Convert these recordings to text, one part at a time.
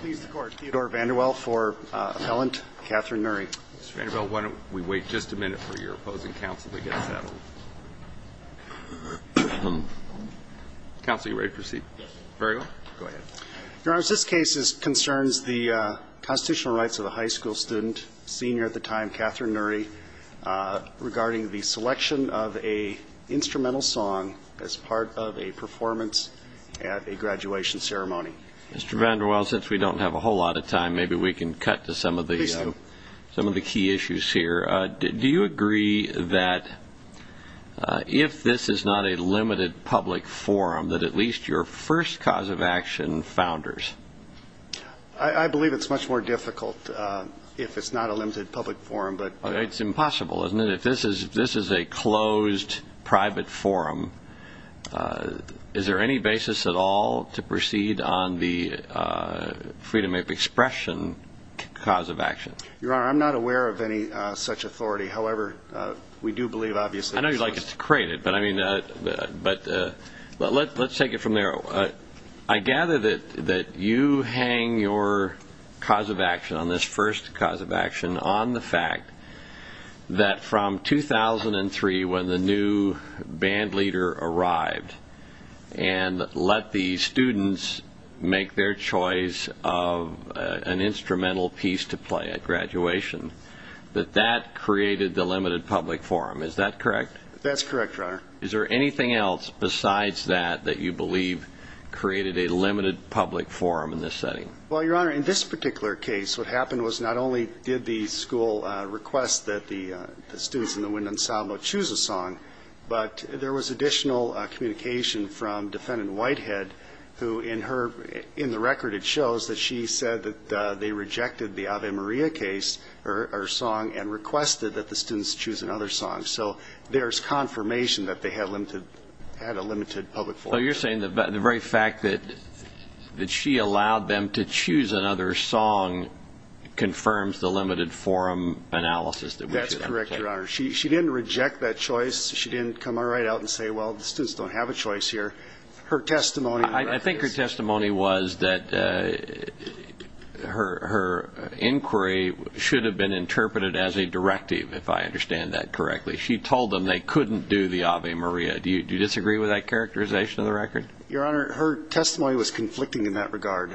Please the court. Theodore VanderWaal for appellant. Katherine Nury. Mr. VanderWaal, why don't we wait just a minute for your opposing counsel to get settled. Counsel, you ready to proceed? Yes. Very well. Go ahead. Your Honor, this case concerns the constitutional rights of a high school student, senior at the time, Katherine Nury, regarding the selection of an instrumental song as part of a performance at a graduation ceremony. Mr. VanderWaal, since we don't have a whole lot of time, maybe we can cut to some of the key issues here. Do you agree that if this is not a limited public forum, that at least your first cause of action founders? I believe it's much more difficult if it's not a limited public forum. It's impossible, isn't it? Your Honor, if this is a closed private forum, is there any basis at all to proceed on the freedom of expression cause of action? Your Honor, I'm not aware of any such authority. However, we do believe, obviously, that this was created. I know you'd like it to be created, but let's take it from there. I gather that you hang your cause of action on this first cause of action on the fact that from 2003, when the new band leader arrived and let the students make their choice of an instrumental piece to play at graduation, that that created the limited public forum. Is that correct? That's correct, Your Honor. Is there anything else besides that that you believe created a limited public forum in this setting? Well, Your Honor, in this particular case, what happened was not only did the school request that the students in the Wind Ensemble choose a song, but there was additional communication from Defendant Whitehead, who in the record it shows that she said that they rejected the Ave Maria case, or song, and requested that the students choose another song. So there's confirmation that they had a limited public forum. So you're saying the very fact that she allowed them to choose another song confirms the limited forum analysis that we should undertake? That's correct, Your Honor. She didn't reject that choice. She didn't come right out and say, well, the students don't have a choice here. I think her testimony was that her inquiry should have been interpreted as a directive, if I understand that correctly. She told them they couldn't do the Ave Maria. Do you disagree with that characterization of the record? Your Honor, her testimony was conflicting in that regard.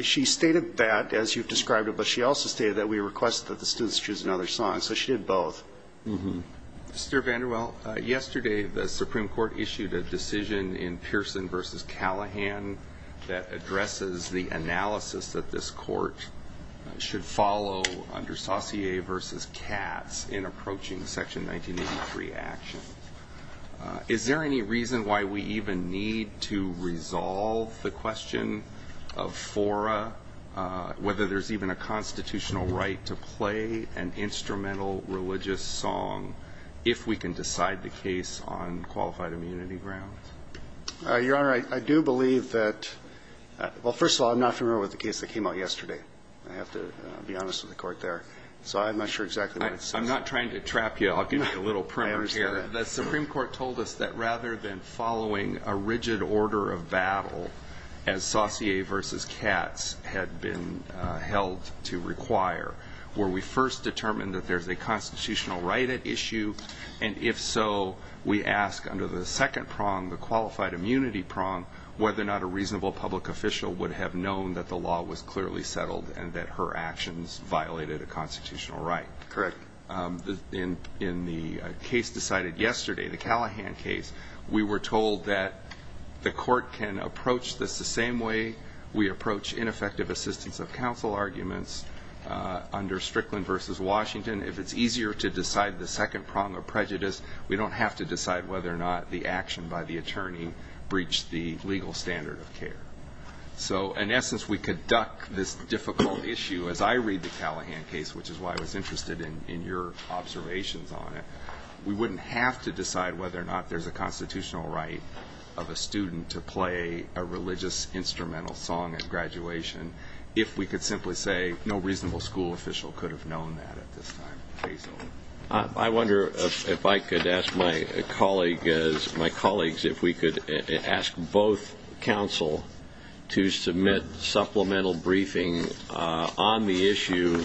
She stated that, as you've described it, but she also stated that we request that the students choose another song. So she did both. Mr. VanderWaal, yesterday the Supreme Court issued a decision in Pearson v. Callahan that addresses the analysis that this court should follow under Saucier v. Katz in approaching Section 1983 action. Is there any reason why we even need to resolve the question of fora, whether there's even a constitutional right to play an instrumental religious song, if we can decide the case on qualified immunity grounds? Your Honor, I do believe that – well, first of all, I'm not familiar with the case that came out yesterday. I have to be honest with the Court there. So I'm not sure exactly what it says. I'm not trying to trap you. I'll give you a little primer here. The Supreme Court told us that rather than following a rigid order of battle, as Saucier v. Katz had been held to require, where we first determined that there's a constitutional right at issue, and if so, we ask under the second prong, the qualified immunity prong, whether or not a reasonable public official would have known that the law was clearly settled and that her actions violated a constitutional right. Correct. In the case decided yesterday, the Callahan case, we were told that the Court can approach this the same way we approach ineffective assistance of counsel arguments under Strickland v. Washington. If it's easier to decide the second prong of prejudice, we don't have to decide whether or not the action by the attorney breached the legal standard of care. So in essence, we could duck this difficult issue as I read the Callahan case, which is why I was interested in your observations on it. We wouldn't have to decide whether or not there's a constitutional right of a student to play a religious instrumental song at graduation if we could simply say no reasonable school official could have known that at this time. I wonder if I could ask my colleagues if we could ask both counsel to submit supplemental briefing on the issue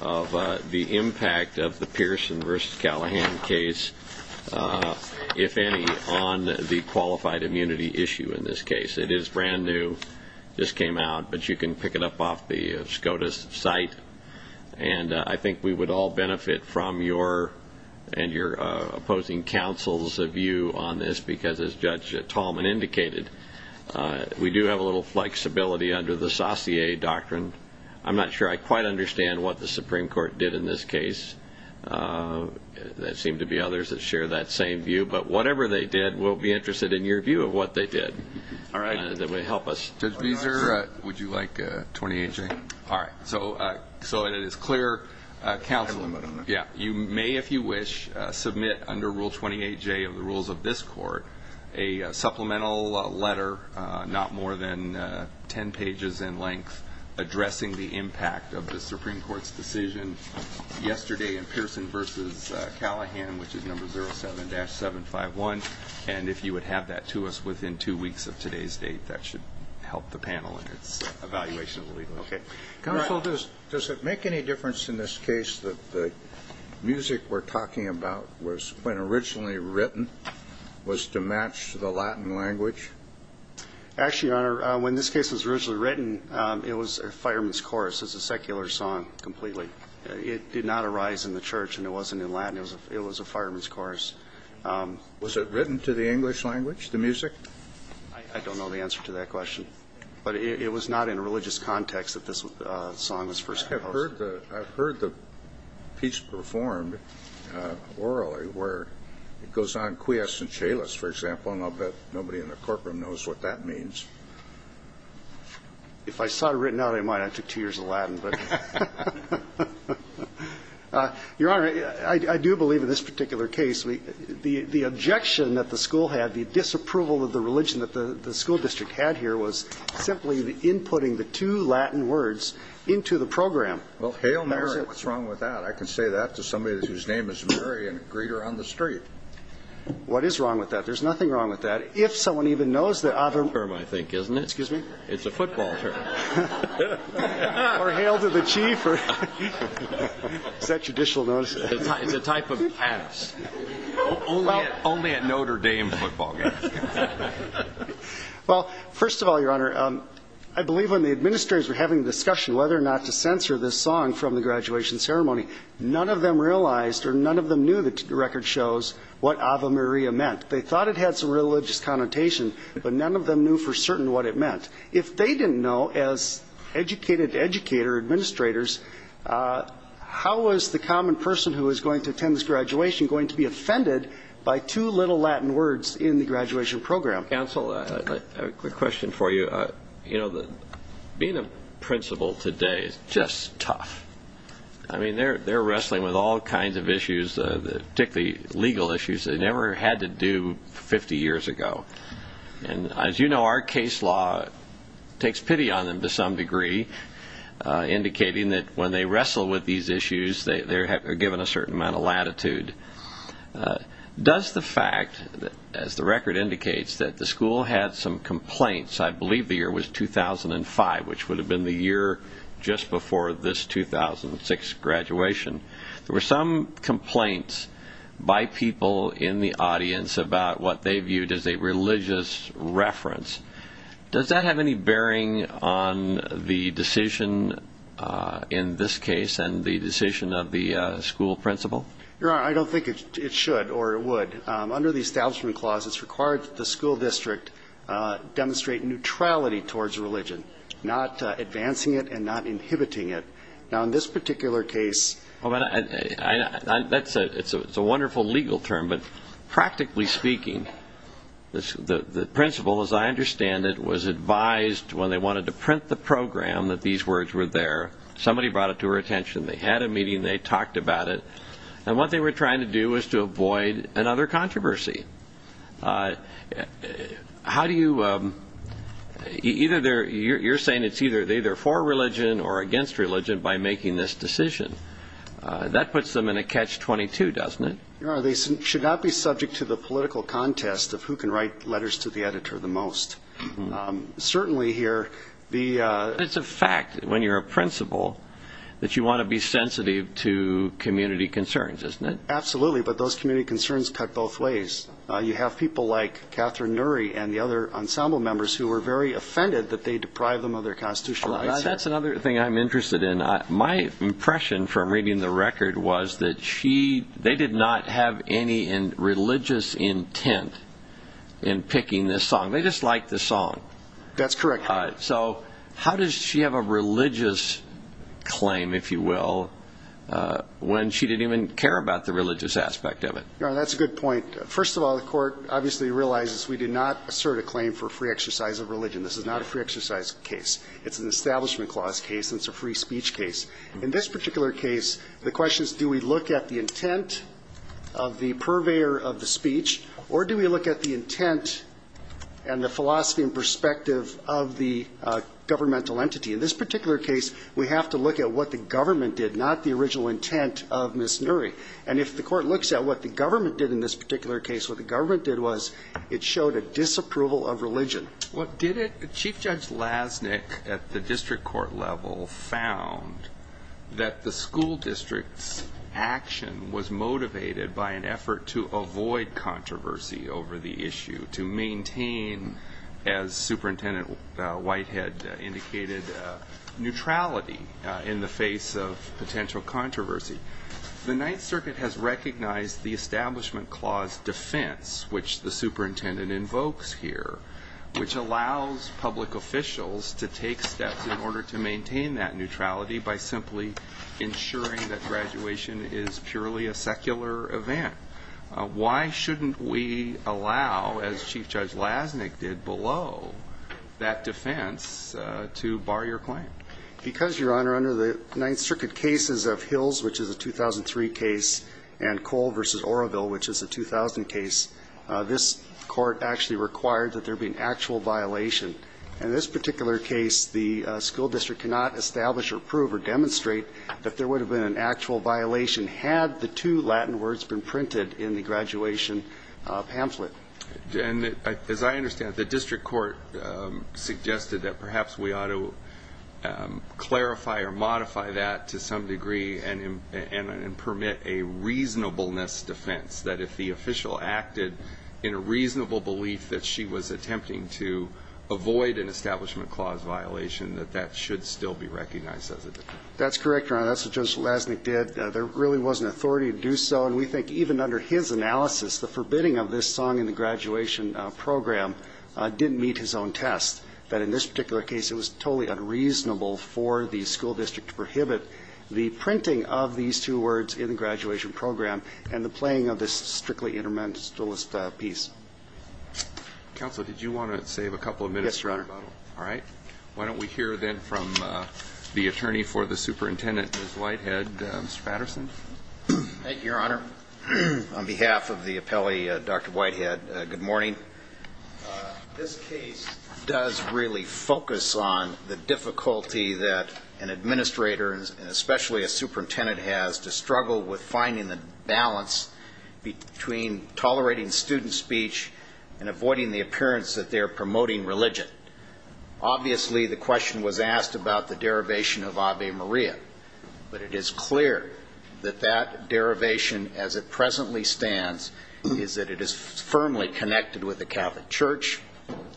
of the impact of the Pearson v. Callahan case, if any, on the qualified immunity issue in this case. It is brand new, just came out, but you can pick it up off the SCOTUS site. And I think we would all benefit from your and your opposing counsel's view on this because, as Judge Tallman indicated, we do have a little flexibility under the Saussure doctrine. I'm not sure I quite understand what the Supreme Court did in this case. There seem to be others that share that same view. But whatever they did, we'll be interested in your view of what they did. All right. Would you like 28J? All right. So it is clear, counsel, you may, if you wish, submit under Rule 28J of the rules of this court, a supplemental letter, not more than 10 pages in length, addressing the impact of the Supreme Court's decision yesterday in Pearson v. Callahan, which is number 07-751. And if you would have that to us within two weeks of today's date, that should help the panel in its evaluation of the legal issue. Okay. Counsel, does it make any difference in this case that the music we're talking about was, when originally written, was to match the Latin language? Actually, Your Honor, when this case was originally written, it was a fireman's chorus. It's a secular song completely. It did not arise in the church, and it wasn't in Latin. It was a fireman's chorus. Was it written to the English language, the music? I don't know the answer to that question. But it was not in a religious context that this song was first composed. I've heard the piece performed orally where it goes on quiescent chalice, for example, and I'll bet nobody in the courtroom knows what that means. If I saw it written out, I might. I took two years of Latin. Your Honor, I do believe in this particular case. The objection that the school had, the disapproval of the religion that the school district had here, was simply inputting the two Latin words into the program. Well, hail Mary. What's wrong with that? I can say that to somebody whose name is Mary and greet her on the street. What is wrong with that? There's nothing wrong with that. If someone even knows the other. It's a football term. Or hail to the chief. Is that judicial notice? It's a type of pass. Only at Notre Dame football games. Well, first of all, Your Honor, I believe when the administrators were having a discussion whether or not to censor this song from the graduation ceremony, none of them realized or none of them knew the record shows what Ave Maria meant. They thought it had some religious connotation, but none of them knew for certain what it meant. If they didn't know, as educated educator administrators, how was the common person who was going to attend this graduation going to be offended by two little Latin words in the graduation program? Counsel, I have a quick question for you. You know, being a principal today is just tough. I mean, they're wrestling with all kinds of issues, particularly legal issues they never had to do 50 years ago. And as you know, our case law takes pity on them to some degree, indicating that when they wrestle with these issues, they're given a certain amount of latitude. Does the fact, as the record indicates, that the school had some complaints, I believe the year was 2005, which would have been the year just before this 2006 graduation, there were some complaints by people in the audience about what they viewed as a religious reference. Does that have any bearing on the decision in this case and the decision of the school principal? Your Honor, I don't think it should or would. Under the establishment clause, it's required that the school district demonstrate neutrality towards religion, not advancing it and not inhibiting it. Now, in this particular case. Well, that's a wonderful legal term, but practically speaking, the principal, as I understand it, was advised when they wanted to print the program that these words were there. Somebody brought it to her attention. They had a meeting. They talked about it. And what they were trying to do was to avoid another controversy. You're saying it's either for religion or against religion by making this decision. That puts them in a catch-22, doesn't it? Your Honor, they should not be subject to the political contest of who can write letters to the editor the most. Certainly here, the... It's a fact when you're a principal that you want to be sensitive to community concerns, isn't it? Absolutely. But those community concerns cut both ways. You have people like Catherine Nury and the other ensemble members who were very offended that they deprived them of their constitutional rights. That's another thing I'm interested in. My impression from reading the record was that they did not have any religious intent in picking this song. They just liked the song. That's correct. So how does she have a religious claim, if you will, when she didn't even care about the religious aspect of it? Your Honor, that's a good point. First of all, the Court obviously realizes we did not assert a claim for free exercise of religion. This is not a free exercise case. It's an Establishment Clause case, and it's a free speech case. In this particular case, the question is do we look at the intent of the purveyor of the speech, or do we look at the intent and the philosophy and perspective of the governmental entity? In this particular case, we have to look at what the government did, not the original intent of Ms. Nury. And if the Court looks at what the government did in this particular case, what the government did was it showed a disapproval of religion. Well, did it? Chief Judge Lasnik at the district court level found that the school district's action was motivated by an effort to avoid controversy over the issue, to maintain, as Superintendent Whitehead indicated, neutrality in the face of potential controversy. The Ninth Circuit has recognized the Establishment Clause defense, which the superintendent invokes here, which allows public officials to take steps in order to maintain that neutrality by simply ensuring that graduation is purely a secular event. Why shouldn't we allow, as Chief Judge Lasnik did, below that defense to bar your claim? Because, Your Honor, under the Ninth Circuit cases of Hills, which is a 2003 case, and Cole v. Oroville, which is a 2000 case, this Court actually required that there be an actual violation. In this particular case, the school district cannot establish or prove or demonstrate that there would have been an actual violation had the two Latin words been printed in the graduation pamphlet. As I understand it, the district court suggested that perhaps we ought to clarify or modify that to some degree and permit a reasonableness defense, that if the official acted in a reasonable belief that she was attempting to avoid an Establishment Clause violation, that that should still be recognized as a defense. That's correct, Your Honor. That's what Judge Lasnik did. There really wasn't authority to do so. And we think even under his analysis, the forbidding of this song in the graduation program didn't meet his own test, that in this particular case it was totally unreasonable for the school district to prohibit the printing of these two words in the graduation program and the playing of this strictly interminabilist piece. Counsel, did you want to save a couple of minutes? Yes, Your Honor. All right. Why don't we hear then from the attorney for the superintendent, Ms. Whitehead. Mr. Patterson? Thank you, Your Honor. On behalf of the appellee, Dr. Whitehead, good morning. This case does really focus on the difficulty that an administrator, and especially a superintendent, has to struggle with finding the balance between tolerating student speech and avoiding the appearance that they're promoting religion. Obviously, the question was asked about the derivation of Ave Maria, but it is clear that that derivation, as it presently stands, is that it is firmly connected with the Catholic Church.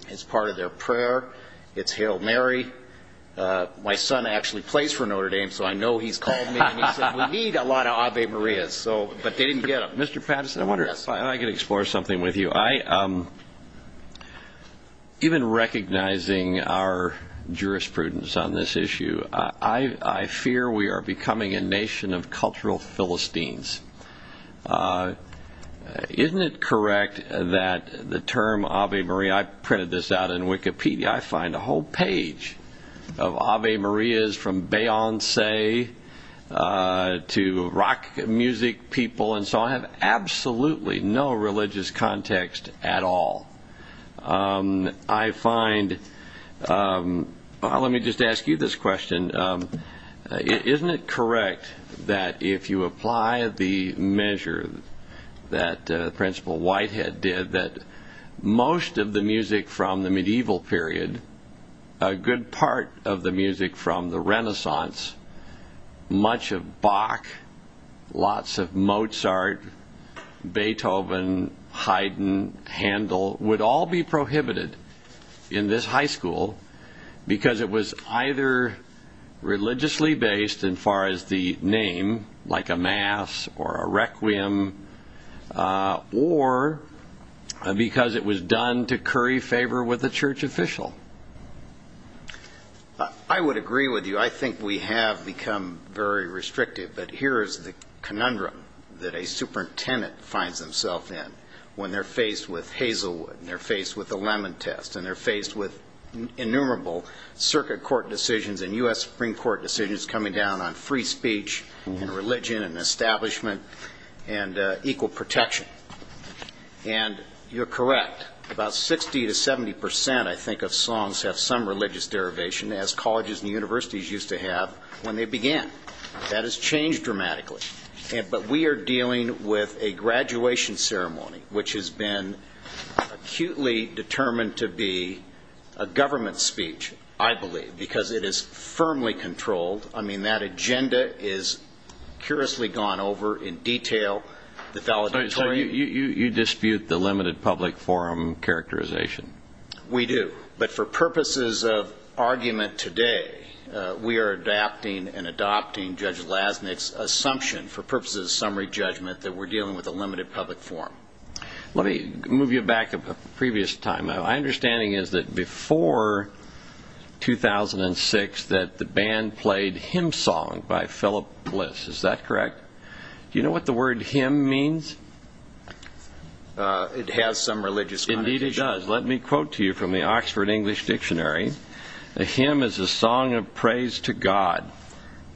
It's part of their prayer. It's Hail Mary. My son actually plays for Notre Dame, so I know he's called me and he said, we need a lot of Ave Maria, but they didn't get them. Mr. Patterson, I wonder if I could explore something with you. You know, even recognizing our jurisprudence on this issue, I fear we are becoming a nation of cultural Philistines. Isn't it correct that the term Ave Maria, I printed this out in Wikipedia, I find a whole page of Ave Marias from Beyonce to rock music people, and so I have absolutely no religious context at all. I find, let me just ask you this question. Isn't it correct that if you apply the measure that Principal Whitehead did, that most of the music from the medieval period, a good part of the music from the Renaissance, much of Bach, lots of Mozart, Beethoven, Haydn, Handel, would all be prohibited in this high school because it was either religiously based in far as the name, like a mass or a requiem, or because it was done to curry favor with a church official? I would agree with you. I think we have become very restrictive, but here is the conundrum that a superintendent finds themselves in when they're faced with Hazelwood and they're faced with the Lemon Test and they're faced with innumerable circuit court decisions and U.S. Supreme Court decisions coming down on free speech and religion and establishment and equal protection. And you're correct. About 60 to 70 percent, I think, of songs have some religious derivation. As colleges and universities used to have when they began. That has changed dramatically. But we are dealing with a graduation ceremony, which has been acutely determined to be a government speech, I believe, because it is firmly controlled. I mean, that agenda is curiously gone over in detail. You dispute the limited public forum characterization. We do. But for purposes of argument today, we are adapting and adopting Judge Lasnik's assumption, for purposes of summary judgment, that we're dealing with a limited public forum. Let me move you back a previous time. My understanding is that before 2006 that the band played Hymn Song by Philip Bliss. Is that correct? Do you know what the word hymn means? It has some religious connotation. Indeed, it does. Let me quote to you from the Oxford English Dictionary. A hymn is a song of praise to God.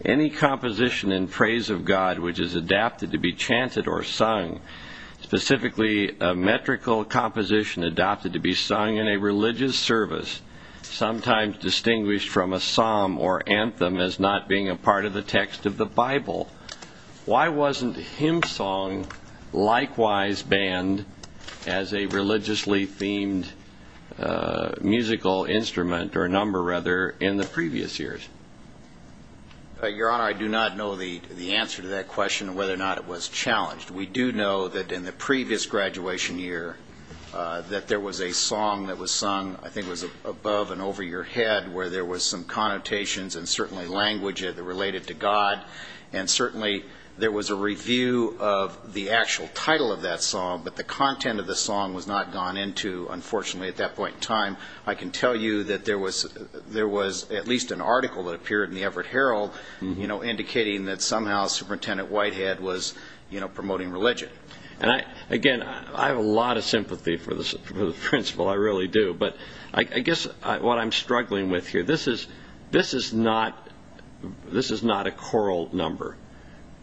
Any composition in praise of God which is adapted to be chanted or sung, specifically a metrical composition adopted to be sung in a religious service, sometimes distinguished from a psalm or anthem as not being a part of the text of the Bible. Why wasn't Hymn Song likewise banned as a religiously themed musical instrument, or number rather, in the previous years? Your Honor, I do not know the answer to that question and whether or not it was challenged. We do know that in the previous graduation year that there was a song that was sung, I think it was above and over your head, where there was some connotations and certainly language related to God and certainly there was a review of the actual title of that song, but the content of the song was not gone into, unfortunately, at that point in time. I can tell you that there was at least an article that appeared in the Everett Herald indicating that somehow Superintendent Whitehead was promoting religion. Again, I have a lot of sympathy for the principal, I really do. But I guess what I'm struggling with here, this is not a choral number.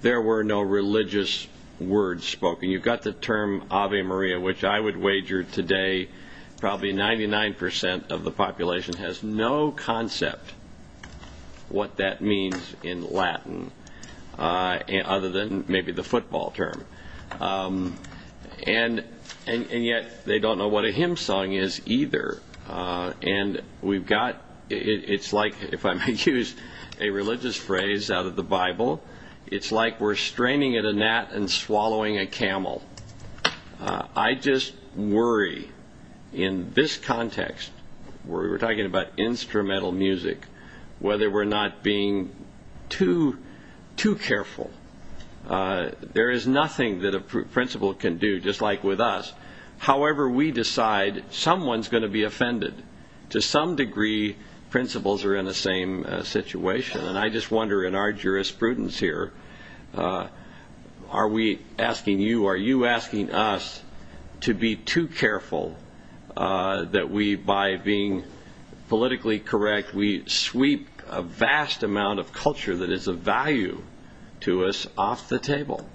There were no religious words spoken. You've got the term Ave Maria, which I would wager today probably 99% of the population has no concept what that means in Latin, other than maybe the football term. And yet they don't know what a hymn song is either. And it's like, if I may use a religious phrase out of the Bible, it's like we're straining at a gnat and swallowing a camel. I just worry in this context, where we're talking about instrumental music, whether we're not being too careful. There is nothing that a principal can do, just like with us. However, we decide someone's going to be offended. To some degree, principals are in the same situation. And I just wonder in our jurisprudence here, are we asking you, are you asking us to be too careful that we, by being politically correct, we sweep a vast amount of culture that is of value to us off the table?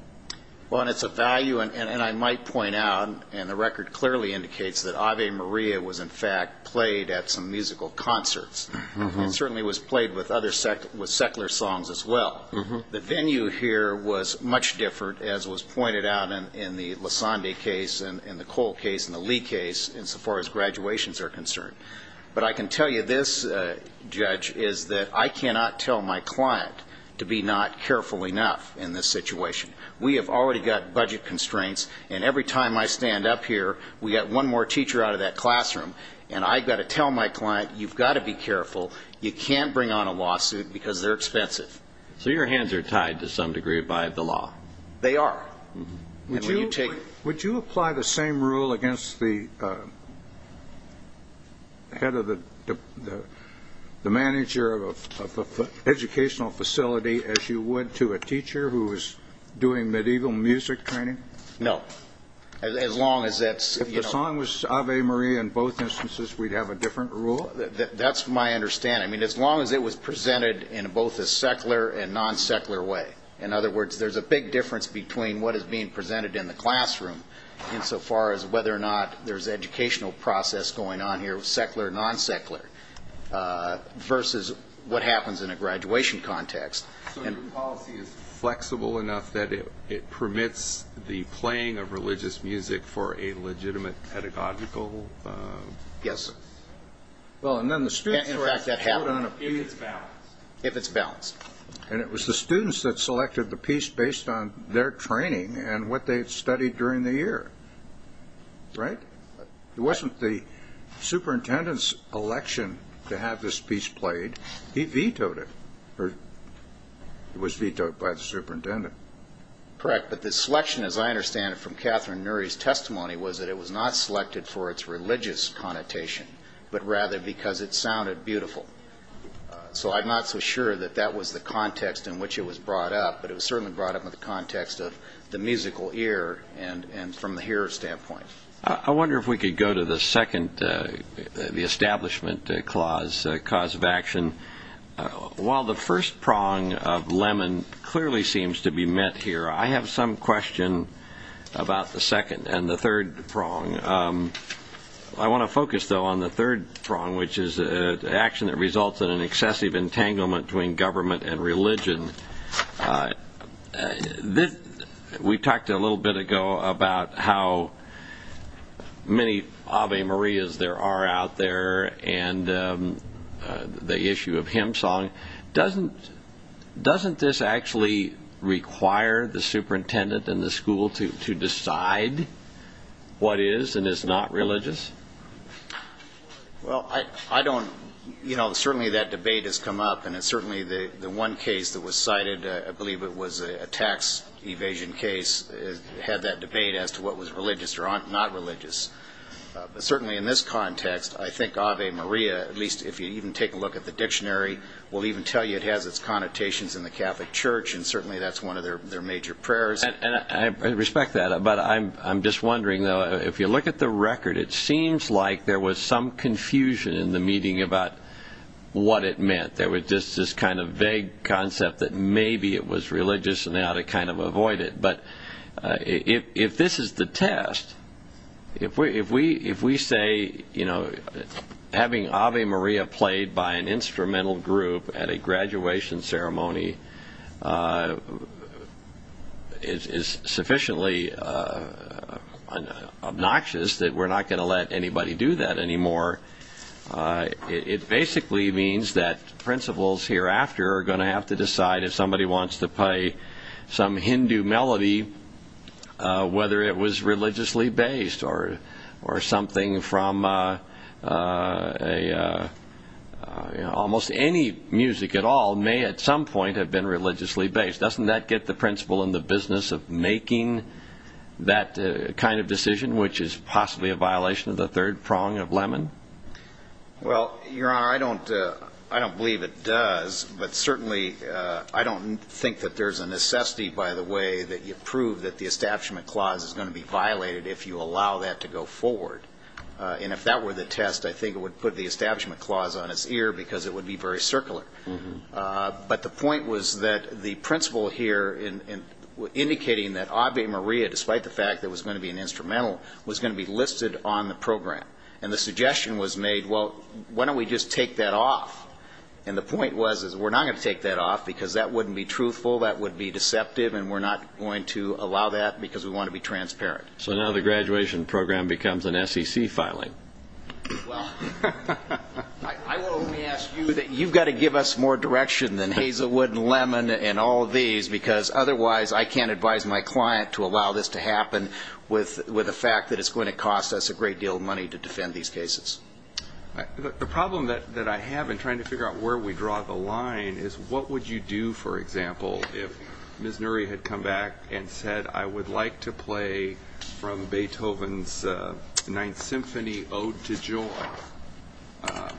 Well, and it's a value, and I might point out, and the record clearly indicates, that Ave Maria was in fact played at some musical concerts. It certainly was played with secular songs as well. The venue here was much different, as was pointed out in the Lasande case and the Cole case and the Lee case, insofar as graduations are concerned. But I can tell you this, Judge, is that I cannot tell my client to be not careful enough in this situation. We have already got budget constraints, and every time I stand up here, we've got one more teacher out of that classroom. And I've got to tell my client, you've got to be careful. You can't bring on a lawsuit because they're expensive. So your hands are tied to some degree by the law. They are. Would you apply the same rule against the head of the manager of an educational facility as you would to a teacher who is doing medieval music training? No. If the song was Ave Maria in both instances, we'd have a different rule? That's my understanding. As long as it was presented in both a secular and non-secular way. In other words, there's a big difference between what is being presented in the classroom, insofar as whether or not there's educational process going on here, secular, non-secular, versus what happens in a graduation context. So your policy is flexible enough that it permits the playing of religious music for a legitimate pedagogical? Yes. In fact, that happened. If it's balanced. If it's balanced. And it was the students that selected the piece based on their training and what they had studied during the year. Right? It wasn't the superintendent's election to have this piece played. He vetoed it. It was vetoed by the superintendent. Correct. But the selection, as I understand it from Catherine Nury's testimony, was that it was not selected for its religious connotation, but rather because it sounded beautiful. So I'm not so sure that that was the context in which it was brought up, but it was certainly brought up in the context of the musical ear and from the hearer's standpoint. I wonder if we could go to the second, the establishment clause, cause of action. While the first prong of Lemon clearly seems to be met here, I have some question about the second and the third prong. I want to focus, though, on the third prong, which is action that results in an excessive entanglement between government and religion. We talked a little bit ago about how many Ave Marias there are out there and the issue of hymn song. Doesn't this actually require the superintendent and the school to decide what is and is not religious? Well, certainly that debate has come up, and certainly the one case that was cited, I believe it was a tax evasion case, had that debate as to what was religious or not religious. But certainly in this context, I think Ave Maria, at least if you even take a look at the dictionary, will even tell you it has its connotations in the Catholic Church, and certainly that's one of their major prayers. I respect that. But I'm just wondering, though, if you look at the record, it seems like there was some confusion in the meeting about what it meant. There was just this kind of vague concept that maybe it was religious and they ought to kind of avoid it. But if this is the test, if we say, you know, having Ave Maria played by an instrumental group at a graduation ceremony is sufficiently obnoxious that we're not going to let anybody do that anymore, it basically means that principals hereafter are going to have to decide if somebody wants to play some Hindu melody, whether it was religiously based or something from almost any music at all may at some point have been religiously based. Doesn't that get the principal in the business of making that kind of decision, which is possibly a violation of the third prong of Lemon? Well, Your Honor, I don't believe it does, but certainly I don't think that there's a necessity, by the way, that you prove that the Establishment Clause is going to be violated if you allow that to go forward. And if that were the test, I think it would put the Establishment Clause on its ear because it would be very circular. But the point was that the principal here in indicating that Ave Maria, despite the fact that it was going to be an instrumental, was going to be listed on the program. And the suggestion was made, well, why don't we just take that off? And the point was is we're not going to take that off because that wouldn't be truthful, that would be deceptive, and we're not going to allow that because we want to be transparent. So now the graduation program becomes an SEC filing. Well, I will only ask you that you've got to give us more direction than Hazelwood and Lemon and all of these because otherwise I can't advise my client to allow this to happen with the fact that it's going to cost us a great deal of money to defend these cases. The problem that I have in trying to figure out where we draw the line is what would you do, for example, if Ms. Nury had come back and said I would like to play from Beethoven's Ninth Symphony, Ode to Joy.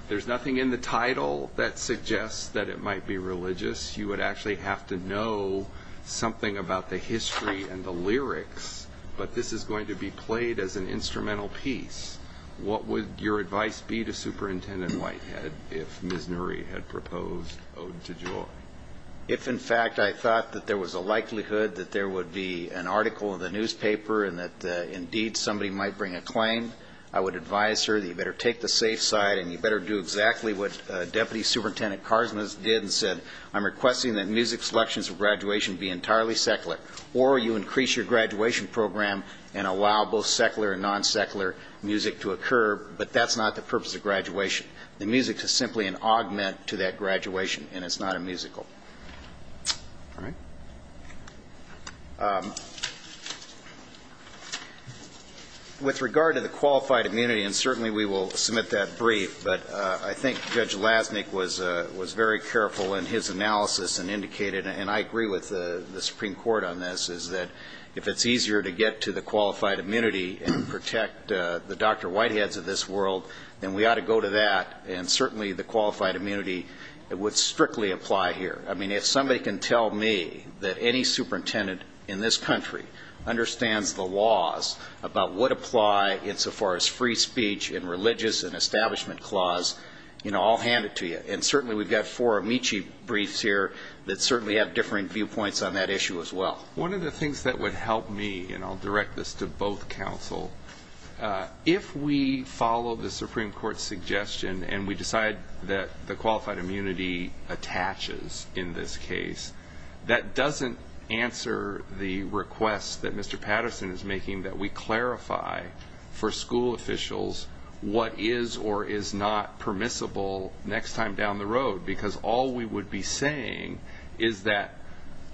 There's nothing in the title that suggests that it might be religious. You would actually have to know something about the history and the lyrics, but this is going to be played as an instrumental piece. What would your advice be to Superintendent Whitehead if Ms. Nury had proposed Ode to Joy? If, in fact, I thought that there was a likelihood that there would be an article in the newspaper and that indeed somebody might bring a claim, I would advise her that you better take the safe side and you better do exactly what Deputy Superintendent Karsnas did and said, I'm requesting that music selections for graduation be entirely secular, or you increase your graduation program and allow both secular and non-secular music to occur. But that's not the purpose of graduation. The music is simply an augment to that graduation, and it's not a musical. With regard to the qualified immunity, and certainly we will submit that brief, but I think Judge Lasnik was very careful in his analysis and indicated, and I agree with the Supreme Court on this, is that if it's easier to get to the qualified immunity and protect the Dr. Whiteheads of this world, then we ought to go to that, and certainly the qualified immunity would strictly apply here. I mean, if somebody can tell me that any superintendent in this country understands the laws about what apply insofar as free speech and religious and establishment clause, I'll hand it to you. And certainly we've got four amici briefs here that certainly have differing viewpoints on that issue as well. One of the things that would help me, and I'll direct this to both counsel, if we follow the Supreme Court's suggestion and we decide that the qualified immunity attaches in this case, that doesn't answer the request that Mr. Patterson is making that we clarify for school officials what is or is not permissible next time down the road. Because all we would be saying is that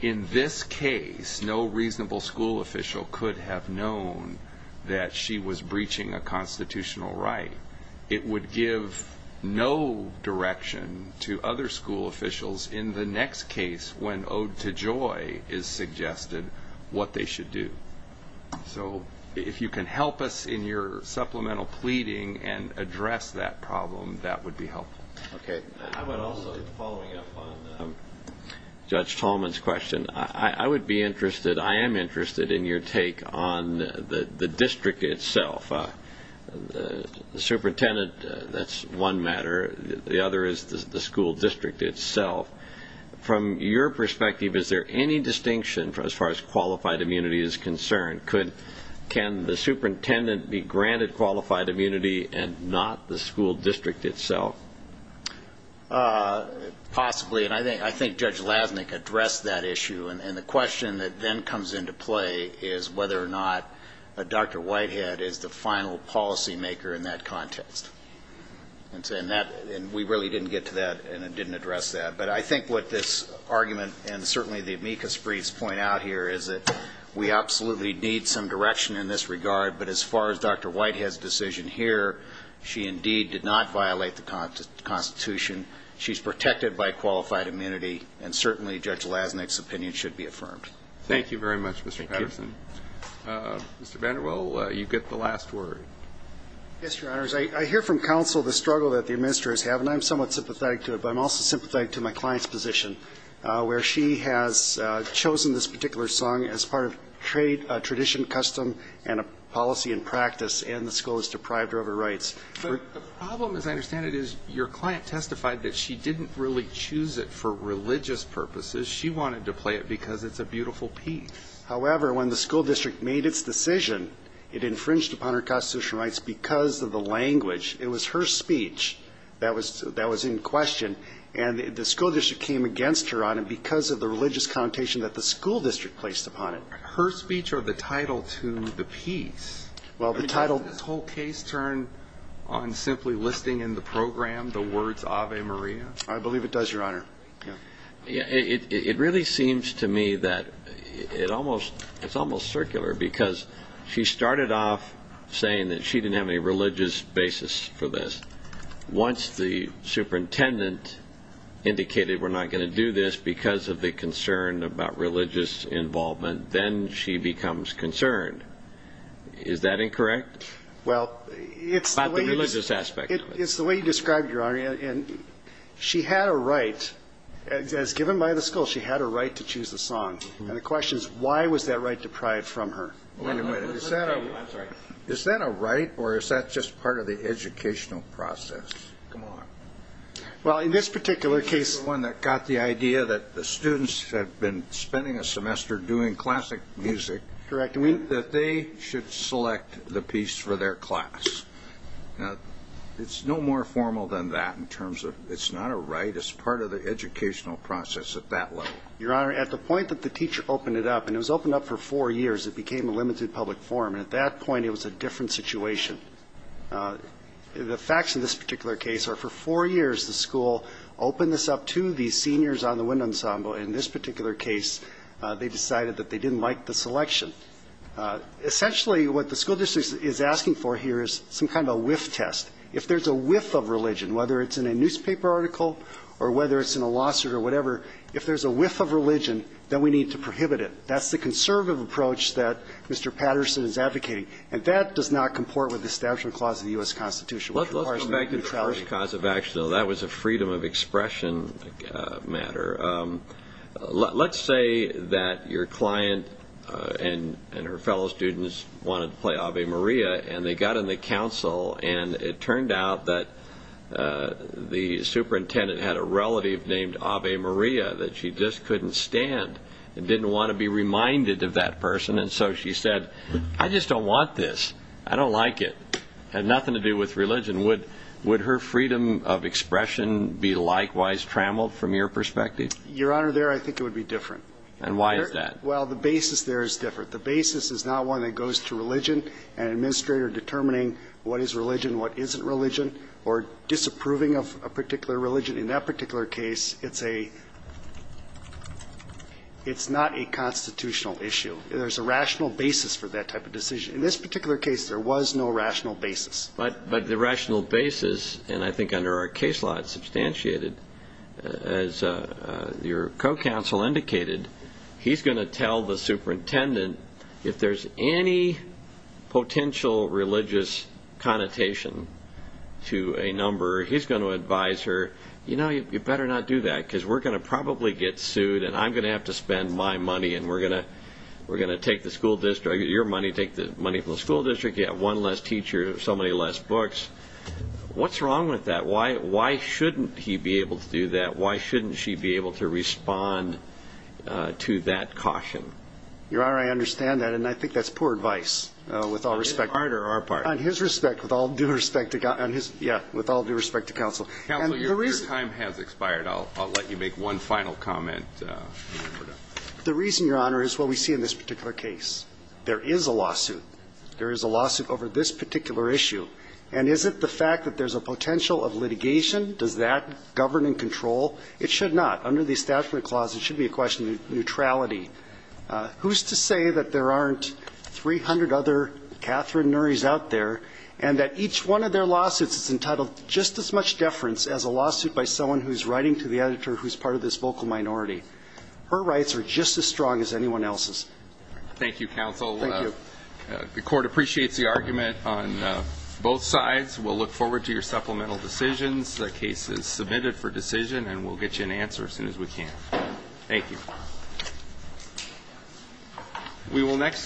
in this case, no reasonable school official could have known that she was breaching a constitutional right. It would give no direction to other school officials in the next case when ode to joy is suggested what they should do. So if you can help us in your supplemental pleading and address that problem, that would be helpful. Okay. I would also, following up on Judge Tolman's question, I would be interested, I am interested in your take on the district itself. The superintendent, that's one matter. The other is the school district itself. From your perspective, is there any distinction as far as qualified immunity is concerned? Can the superintendent be granted qualified immunity and not the school district itself? Possibly. And I think Judge Lasnik addressed that issue. And the question that then comes into play is whether or not Dr. Whitehead is the final policymaker in that context. And we really didn't get to that and didn't address that. But I think what this argument and certainly the amicus briefs point out here is that we absolutely need some direction in this regard. But as far as Dr. Whitehead's decision here, she indeed did not violate the Constitution. She's protected by qualified immunity. And certainly Judge Lasnik's opinion should be affirmed. Thank you very much, Mr. Patterson. Thank you. Mr. Vanderbilt, you get the last word. Yes, Your Honors. I hear from counsel the struggle that the administrators have, and I'm somewhat sympathetic to it. But I'm also sympathetic to my client's position, where she has chosen this particular song as part of trade, tradition, custom, and a policy and practice, and the school has deprived her of her rights. But the problem, as I understand it, is your client testified that she didn't really choose it for religious purposes. She wanted to play it because it's a beautiful piece. However, when the school district made its decision, it infringed upon her constitutional rights because of the language. It was her speech that was in question. And the school district came against her on it because of the religious connotation that the school district placed upon it. Her speech or the title to the piece? Well, the title. Does this whole case turn on simply listing in the program the words Ave Maria? I believe it does, Your Honor. It really seems to me that it's almost circular because she started off saying that she didn't have any religious basis for this. Once the superintendent indicated we're not going to do this because of the concern about religious involvement, then she becomes concerned. Is that incorrect about the religious aspect of it? It's the way you described it, Your Honor. She had a right. As given by the school, she had a right to choose a song. And the question is, why was that right deprived from her? Wait a minute. Is that a right or is that just part of the educational process? Come on. Well, in this particular case... The one that got the idea that the students had been spending a semester doing classic music. Correct. That they should select the piece for their class. It's no more formal than that in terms of it's not a right. It's part of the educational process at that level. Your Honor, at the point that the teacher opened it up, and it was opened up for four years, it became a limited public forum. And at that point, it was a different situation. The facts in this particular case are for four years the school opened this up to these seniors on the wind ensemble. In this particular case, they decided that they didn't like the selection. Essentially, what the school district is asking for here is some kind of a whiff test. If there's a whiff of religion, whether it's in a newspaper article or whether it's in a lawsuit or whatever, if there's a whiff of religion, then we need to prohibit it. That's the conservative approach that Mr. Patterson is advocating. And that does not comport with the Establishment Clause of the U.S. Constitution. Let's go back to the first cause of action, though. That was a freedom of expression matter. Let's say that your client and her fellow students wanted to play Ave Maria, and they got in the council, and it turned out that the superintendent had a relative named Ave Maria, that she just couldn't stand and didn't want to be reminded of that person. And so she said, I just don't want this. I don't like it. It had nothing to do with religion. Would her freedom of expression be likewise trammeled from your perspective? Your Honor, there I think it would be different. And why is that? Well, the basis there is different. The basis is not one that goes to religion and an administrator determining what is religion and what isn't religion or disapproving of a particular religion. In that particular case, it's a – it's not a constitutional issue. There's a rational basis for that type of decision. In this particular case, there was no rational basis. But the rational basis, and I think under our case law it's substantiated, as your co-counsel indicated, he's going to tell the superintendent if there's any potential religious connotation to a number, he's going to advise her, you know, you better not do that because we're going to probably get sued, and I'm going to have to spend my money, and we're going to take the school district, your money, take the money from the school district, you have one less teacher, so many less books. What's wrong with that? Why shouldn't he be able to do that? Why shouldn't she be able to respond to that caution? Your Honor, I understand that, and I think that's poor advice with all respect. On his part or our part? On his respect, with all due respect to – yeah, with all due respect to counsel. Counsel, your time has expired. I'll let you make one final comment. The reason, Your Honor, is what we see in this particular case. There is a lawsuit. There is a lawsuit over this particular issue. And is it the fact that there's a potential of litigation? Does that govern and control? It should not. Under the Establishment Clause, it should be a question of neutrality. Who's to say that there aren't 300 other Catherine Nurys out there and that each one of their lawsuits is entitled to just as much deference as a lawsuit by someone who's writing to the editor who's part of this vocal minority? Her rights are just as strong as anyone else's. Thank you, counsel. Thank you. The Court appreciates the argument on both sides. We'll look forward to your supplemental decisions, cases submitted for decision, and we'll get you an answer as soon as we can. Thank you. We will next.